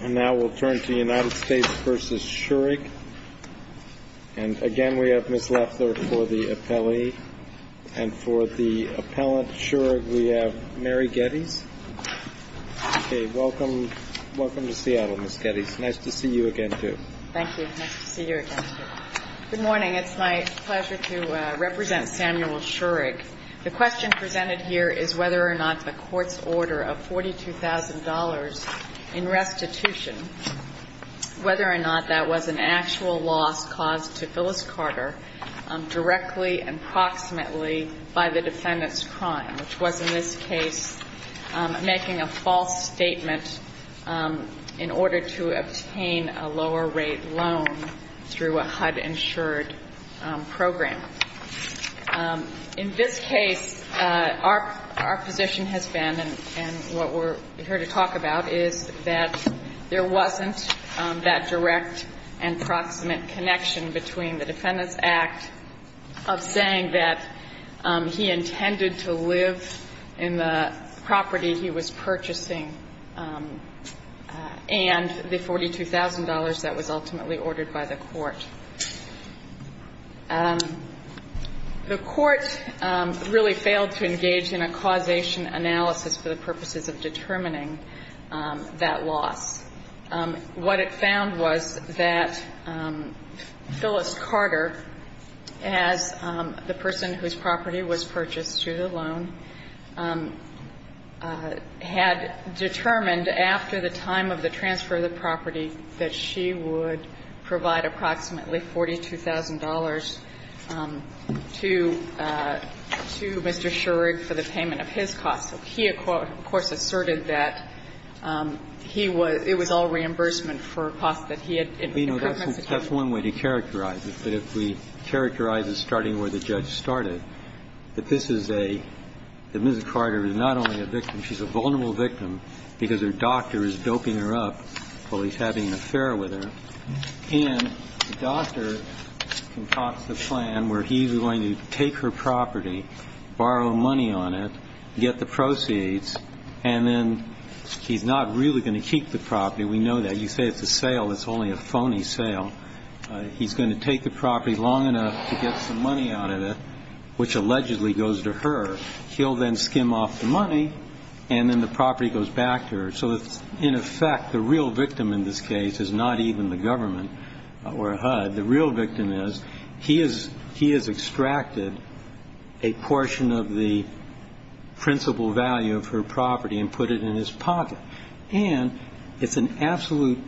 And now we'll turn to United States v. Schurig. And, again, we have Ms. Leffler for the appellee. And for the appellant, Schurig, we have Mary Geddes. Okay, welcome. Welcome to Seattle, Ms. Geddes. Nice to see you again, too. Thank you. Nice to see you again, too. Good morning. It's my pleasure to represent Samuel Schurig. The question presented here is whether or not the court's order of $42,000 in restitution, whether or not that was an actual loss caused to Phyllis Carter directly and approximately by the defendant's crime, which was, in this case, making a false statement in order to obtain a lower-rate loan through a HUD-insured program. In this case, our position has been, and what we're here to talk about, is that there wasn't that direct and proximate connection between the defendant's act of saying that he intended to live in the property he was purchasing and the $42,000 that was ultimately ordered by the court. The court really failed to engage in a causation analysis for the purposes of determining that loss. What it found was that Phyllis Carter, as the person whose property was purchased through the loan, had determined after the time of the transfer of the property that she would provide approximately $42,000 to Mr. Schurig for the payment of his cost. So he, of course, asserted that he was – it was all reimbursement for a cost that he had in preference to him. That's one way to characterize it. But if we characterize it starting where the judge started, that this is a – that Mrs. Carter is not only a victim, she's a vulnerable victim because her doctor is doping her up while he's having an affair with her. And the doctor concocts a plan where he's going to take her property, borrow money on it, get the proceeds, and then he's not really going to keep the property. We know that. You say it's a sale. It's only a phony sale. He's going to take the property long enough to get some money out of it, which allegedly goes to her. He'll then skim off the money, and then the property goes back to her. So in effect, the real victim in this case is not even the government or HUD. The real victim is he has extracted a portion of the principal value of her property and put it in his pocket. And it's an absolute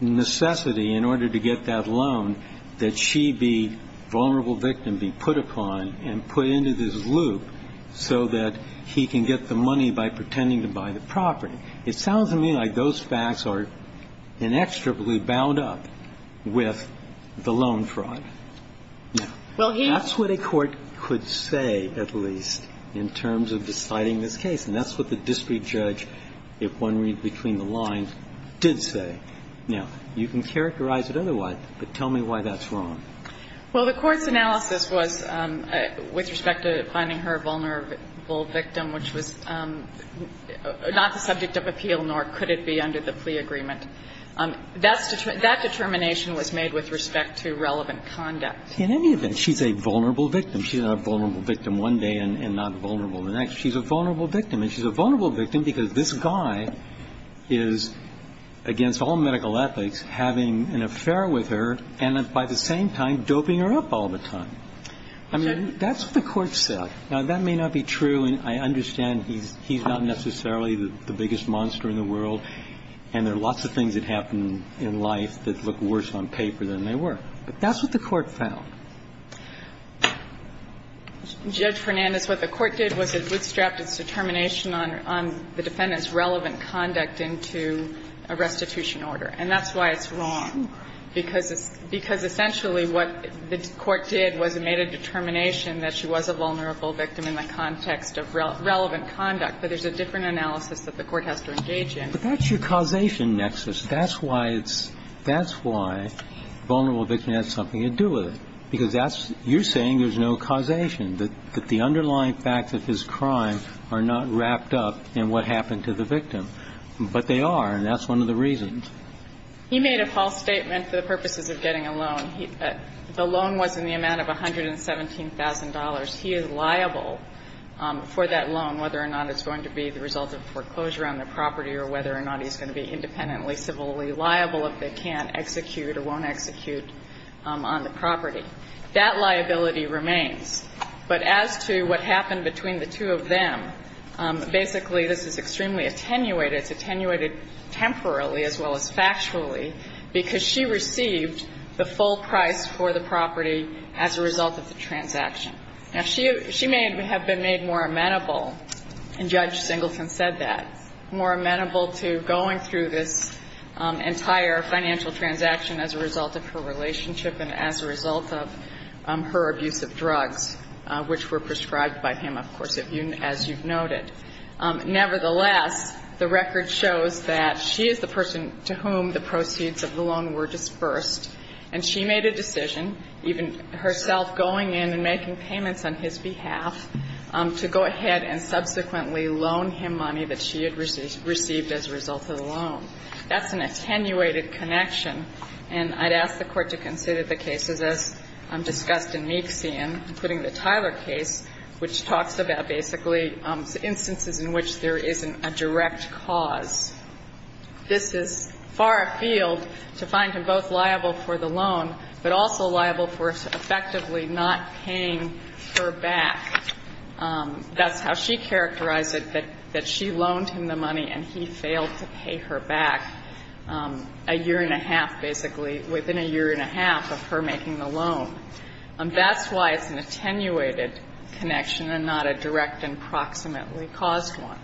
necessity in order to get that loan that she be vulnerable victim be put upon and put into this loop so that he can get the money by pretending to buy the property. It sounds to me like those facts are inextricably bound up with the loan fraud. Now, that's what a court could say, at least, in terms of deciding this case. And that's what the district judge, if one reads between the lines, did say. Now, you can characterize it otherwise, but tell me why that's wrong. Well, the Court's analysis was with respect to finding her vulnerable victim, which was not the subject of appeal, nor could it be under the plea agreement. That determination was made with respect to relevant conduct. In any event, she's a vulnerable victim. She's a vulnerable victim one day and not vulnerable the next. She's a vulnerable victim. And she's a vulnerable victim because this guy is, against all medical ethics, having an affair with her and, by the same time, doping her up all the time. I mean, that's what the Court said. Now, that may not be true. I understand he's not necessarily the biggest monster in the world and there are lots of things that happen in life that look worse on paper than they were. But that's what the Court found. Judge Fernandez, what the Court did was it bootstrapped its determination on the defendant's relevant conduct into a restitution order. And that's why it's wrong, because essentially what the Court did was it made a determination that she was a vulnerable victim in the context of relevant conduct. But there's a different analysis that the Court has to engage in. But that's your causation nexus. That's why it's – that's why vulnerable victim has something to do with it, because that's – you're saying there's no causation, that the underlying facts of his crime are not wrapped up in what happened to the victim. But they are, and that's one of the reasons. He made a false statement for the purposes of getting a loan. The loan was in the amount of $117,000. He is liable for that loan, whether or not it's going to be the result of foreclosure on the property or whether or not he's going to be independently civilly liable if they can't execute or won't execute on the property. That liability remains. But as to what happened between the two of them, basically this is extremely attenuated. It's attenuated temporally as well as factually because she received the full price for the property as a result of the transaction. Now, she may have been made more amenable, and Judge Singleton said that, more amenable to going through this entire financial transaction as a result of her relationship and as a result of her abuse of drugs, which were prescribed by him, of course, as you've noted. Nevertheless, the record shows that she is the person to whom the proceeds of the loan were disbursed, and she made a decision, even herself going in and making payments on his behalf, to go ahead and subsequently loan him money that she had received as a result of the loan. That's an attenuated connection, and I'd ask the Court to consider the cases as discussed in Meeksian, including the Tyler case, which talks about basically instances in which there isn't a direct cause. This is far afield to find him both liable for the loan, but also liable for effectively not paying her back. That's how she characterized it, that she loaned him the money and he failed to pay her back a year and a half, basically, within a year and a half of her making the loan. That's why it's an attenuated connection and not a direct and proximately caused one.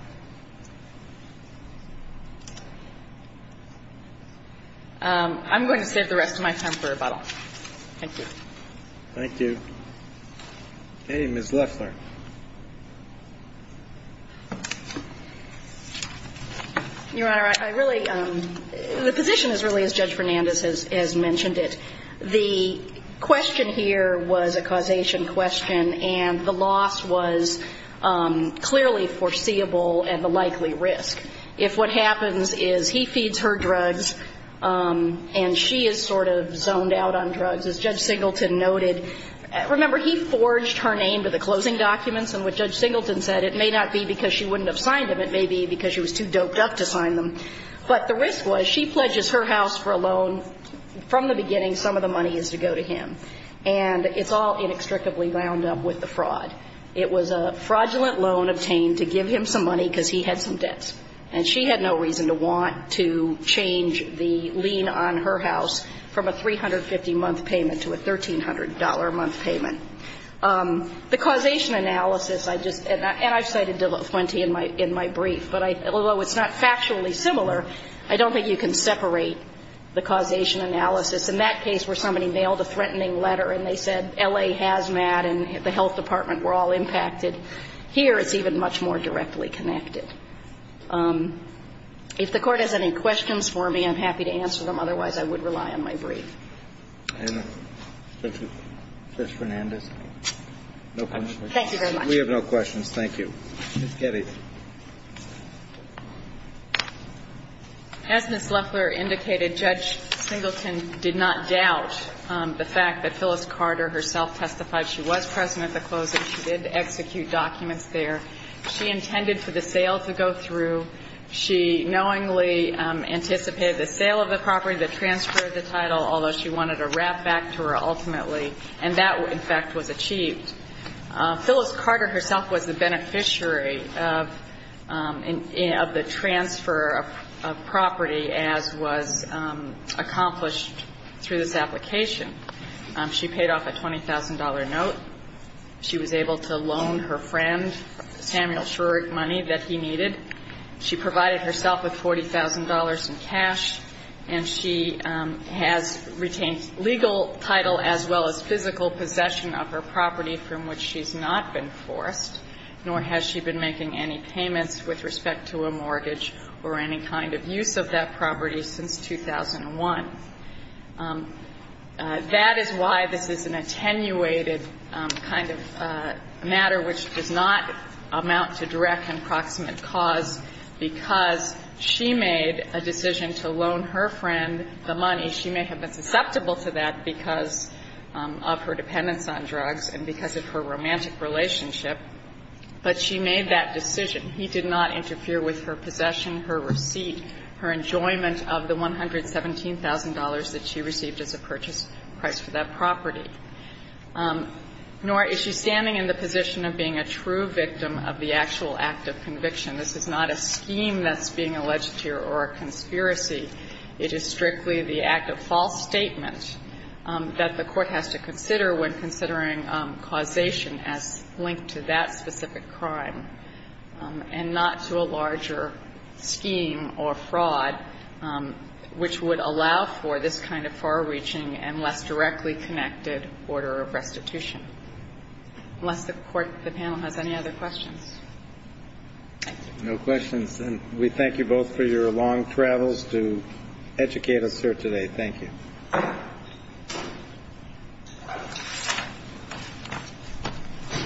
I'm going to save the rest of my time for rebuttal. Thank you. Thank you. Okay. Ms. Loeffler. Your Honor, I really, the position is really as Judge Fernandez has mentioned it. The question here was a causation question, and the loss was clearly foreseeable and the likely risk. If what happens is he feeds her drugs and she is sort of zoned out on drugs, as Judge Singleton said, it may not be because she wouldn't have signed them. It may be because she was too doped up to sign them. But the risk was she pledges her house for a loan. From the beginning, some of the money is to go to him. And it's all inextricably wound up with the fraud. It was a fraudulent loan obtained to give him some money because he had some debts. And she had no reason to want to change the lien on her house from a 350-month payment to a $1,300-month payment. The causation analysis I just, and I've cited plenty in my brief, but although it's not factually similar, I don't think you can separate the causation analysis. In that case where somebody mailed a threatening letter and they said L.A. Hazmat and the health department were all impacted, here it's even much more directly connected. If the Court has any questions for me, I'm happy to answer them. Otherwise, I would rely on my brief. Thank you. Judge Fernandez, no questions? Thank you very much. We have no questions. Thank you. Ms. Keddy. As Ms. Leffler indicated, Judge Singleton did not doubt the fact that Phyllis Carter herself testified she was present at the closing. She did execute documents there. She intended for the sale to go through. She knowingly anticipated the sale of the property, the transfer of the title, although she wanted a wrap-back to her ultimately. And that, in fact, was achieved. Phyllis Carter herself was the beneficiary of the transfer of property as was accomplished through this application. She paid off a $20,000 note. She was able to loan her friend Samuel Shurick money that he needed. She provided herself with $40,000 in cash. And she has retained legal title as well as physical possession of her property from which she's not been forced, nor has she been making any payments with respect to a mortgage or any kind of use of that property since 2001. That is why this is an attenuated kind of matter which does not amount to direct and proximate cause, because she made a decision to loan her friend the money. She may have been susceptible to that because of her dependence on drugs and because of her romantic relationship, but she made that decision. He did not interfere with her possession, her receipt, her enjoyment of the $117,000 that she received as a purchase price for that property. Nor is she standing in the position of being a true victim of the actual act of conviction. This is not a scheme that's being alleged here or a conspiracy. It is strictly the act of false statement that the Court has to consider when considering causation as linked to that specific crime and not to a larger scheme or fraud which would allow for this kind of far-reaching and less directly connected order of restitution. Unless the panel has any other questions. Thank you. No questions. And we thank you both for your long travels to educate us here today. Thank you.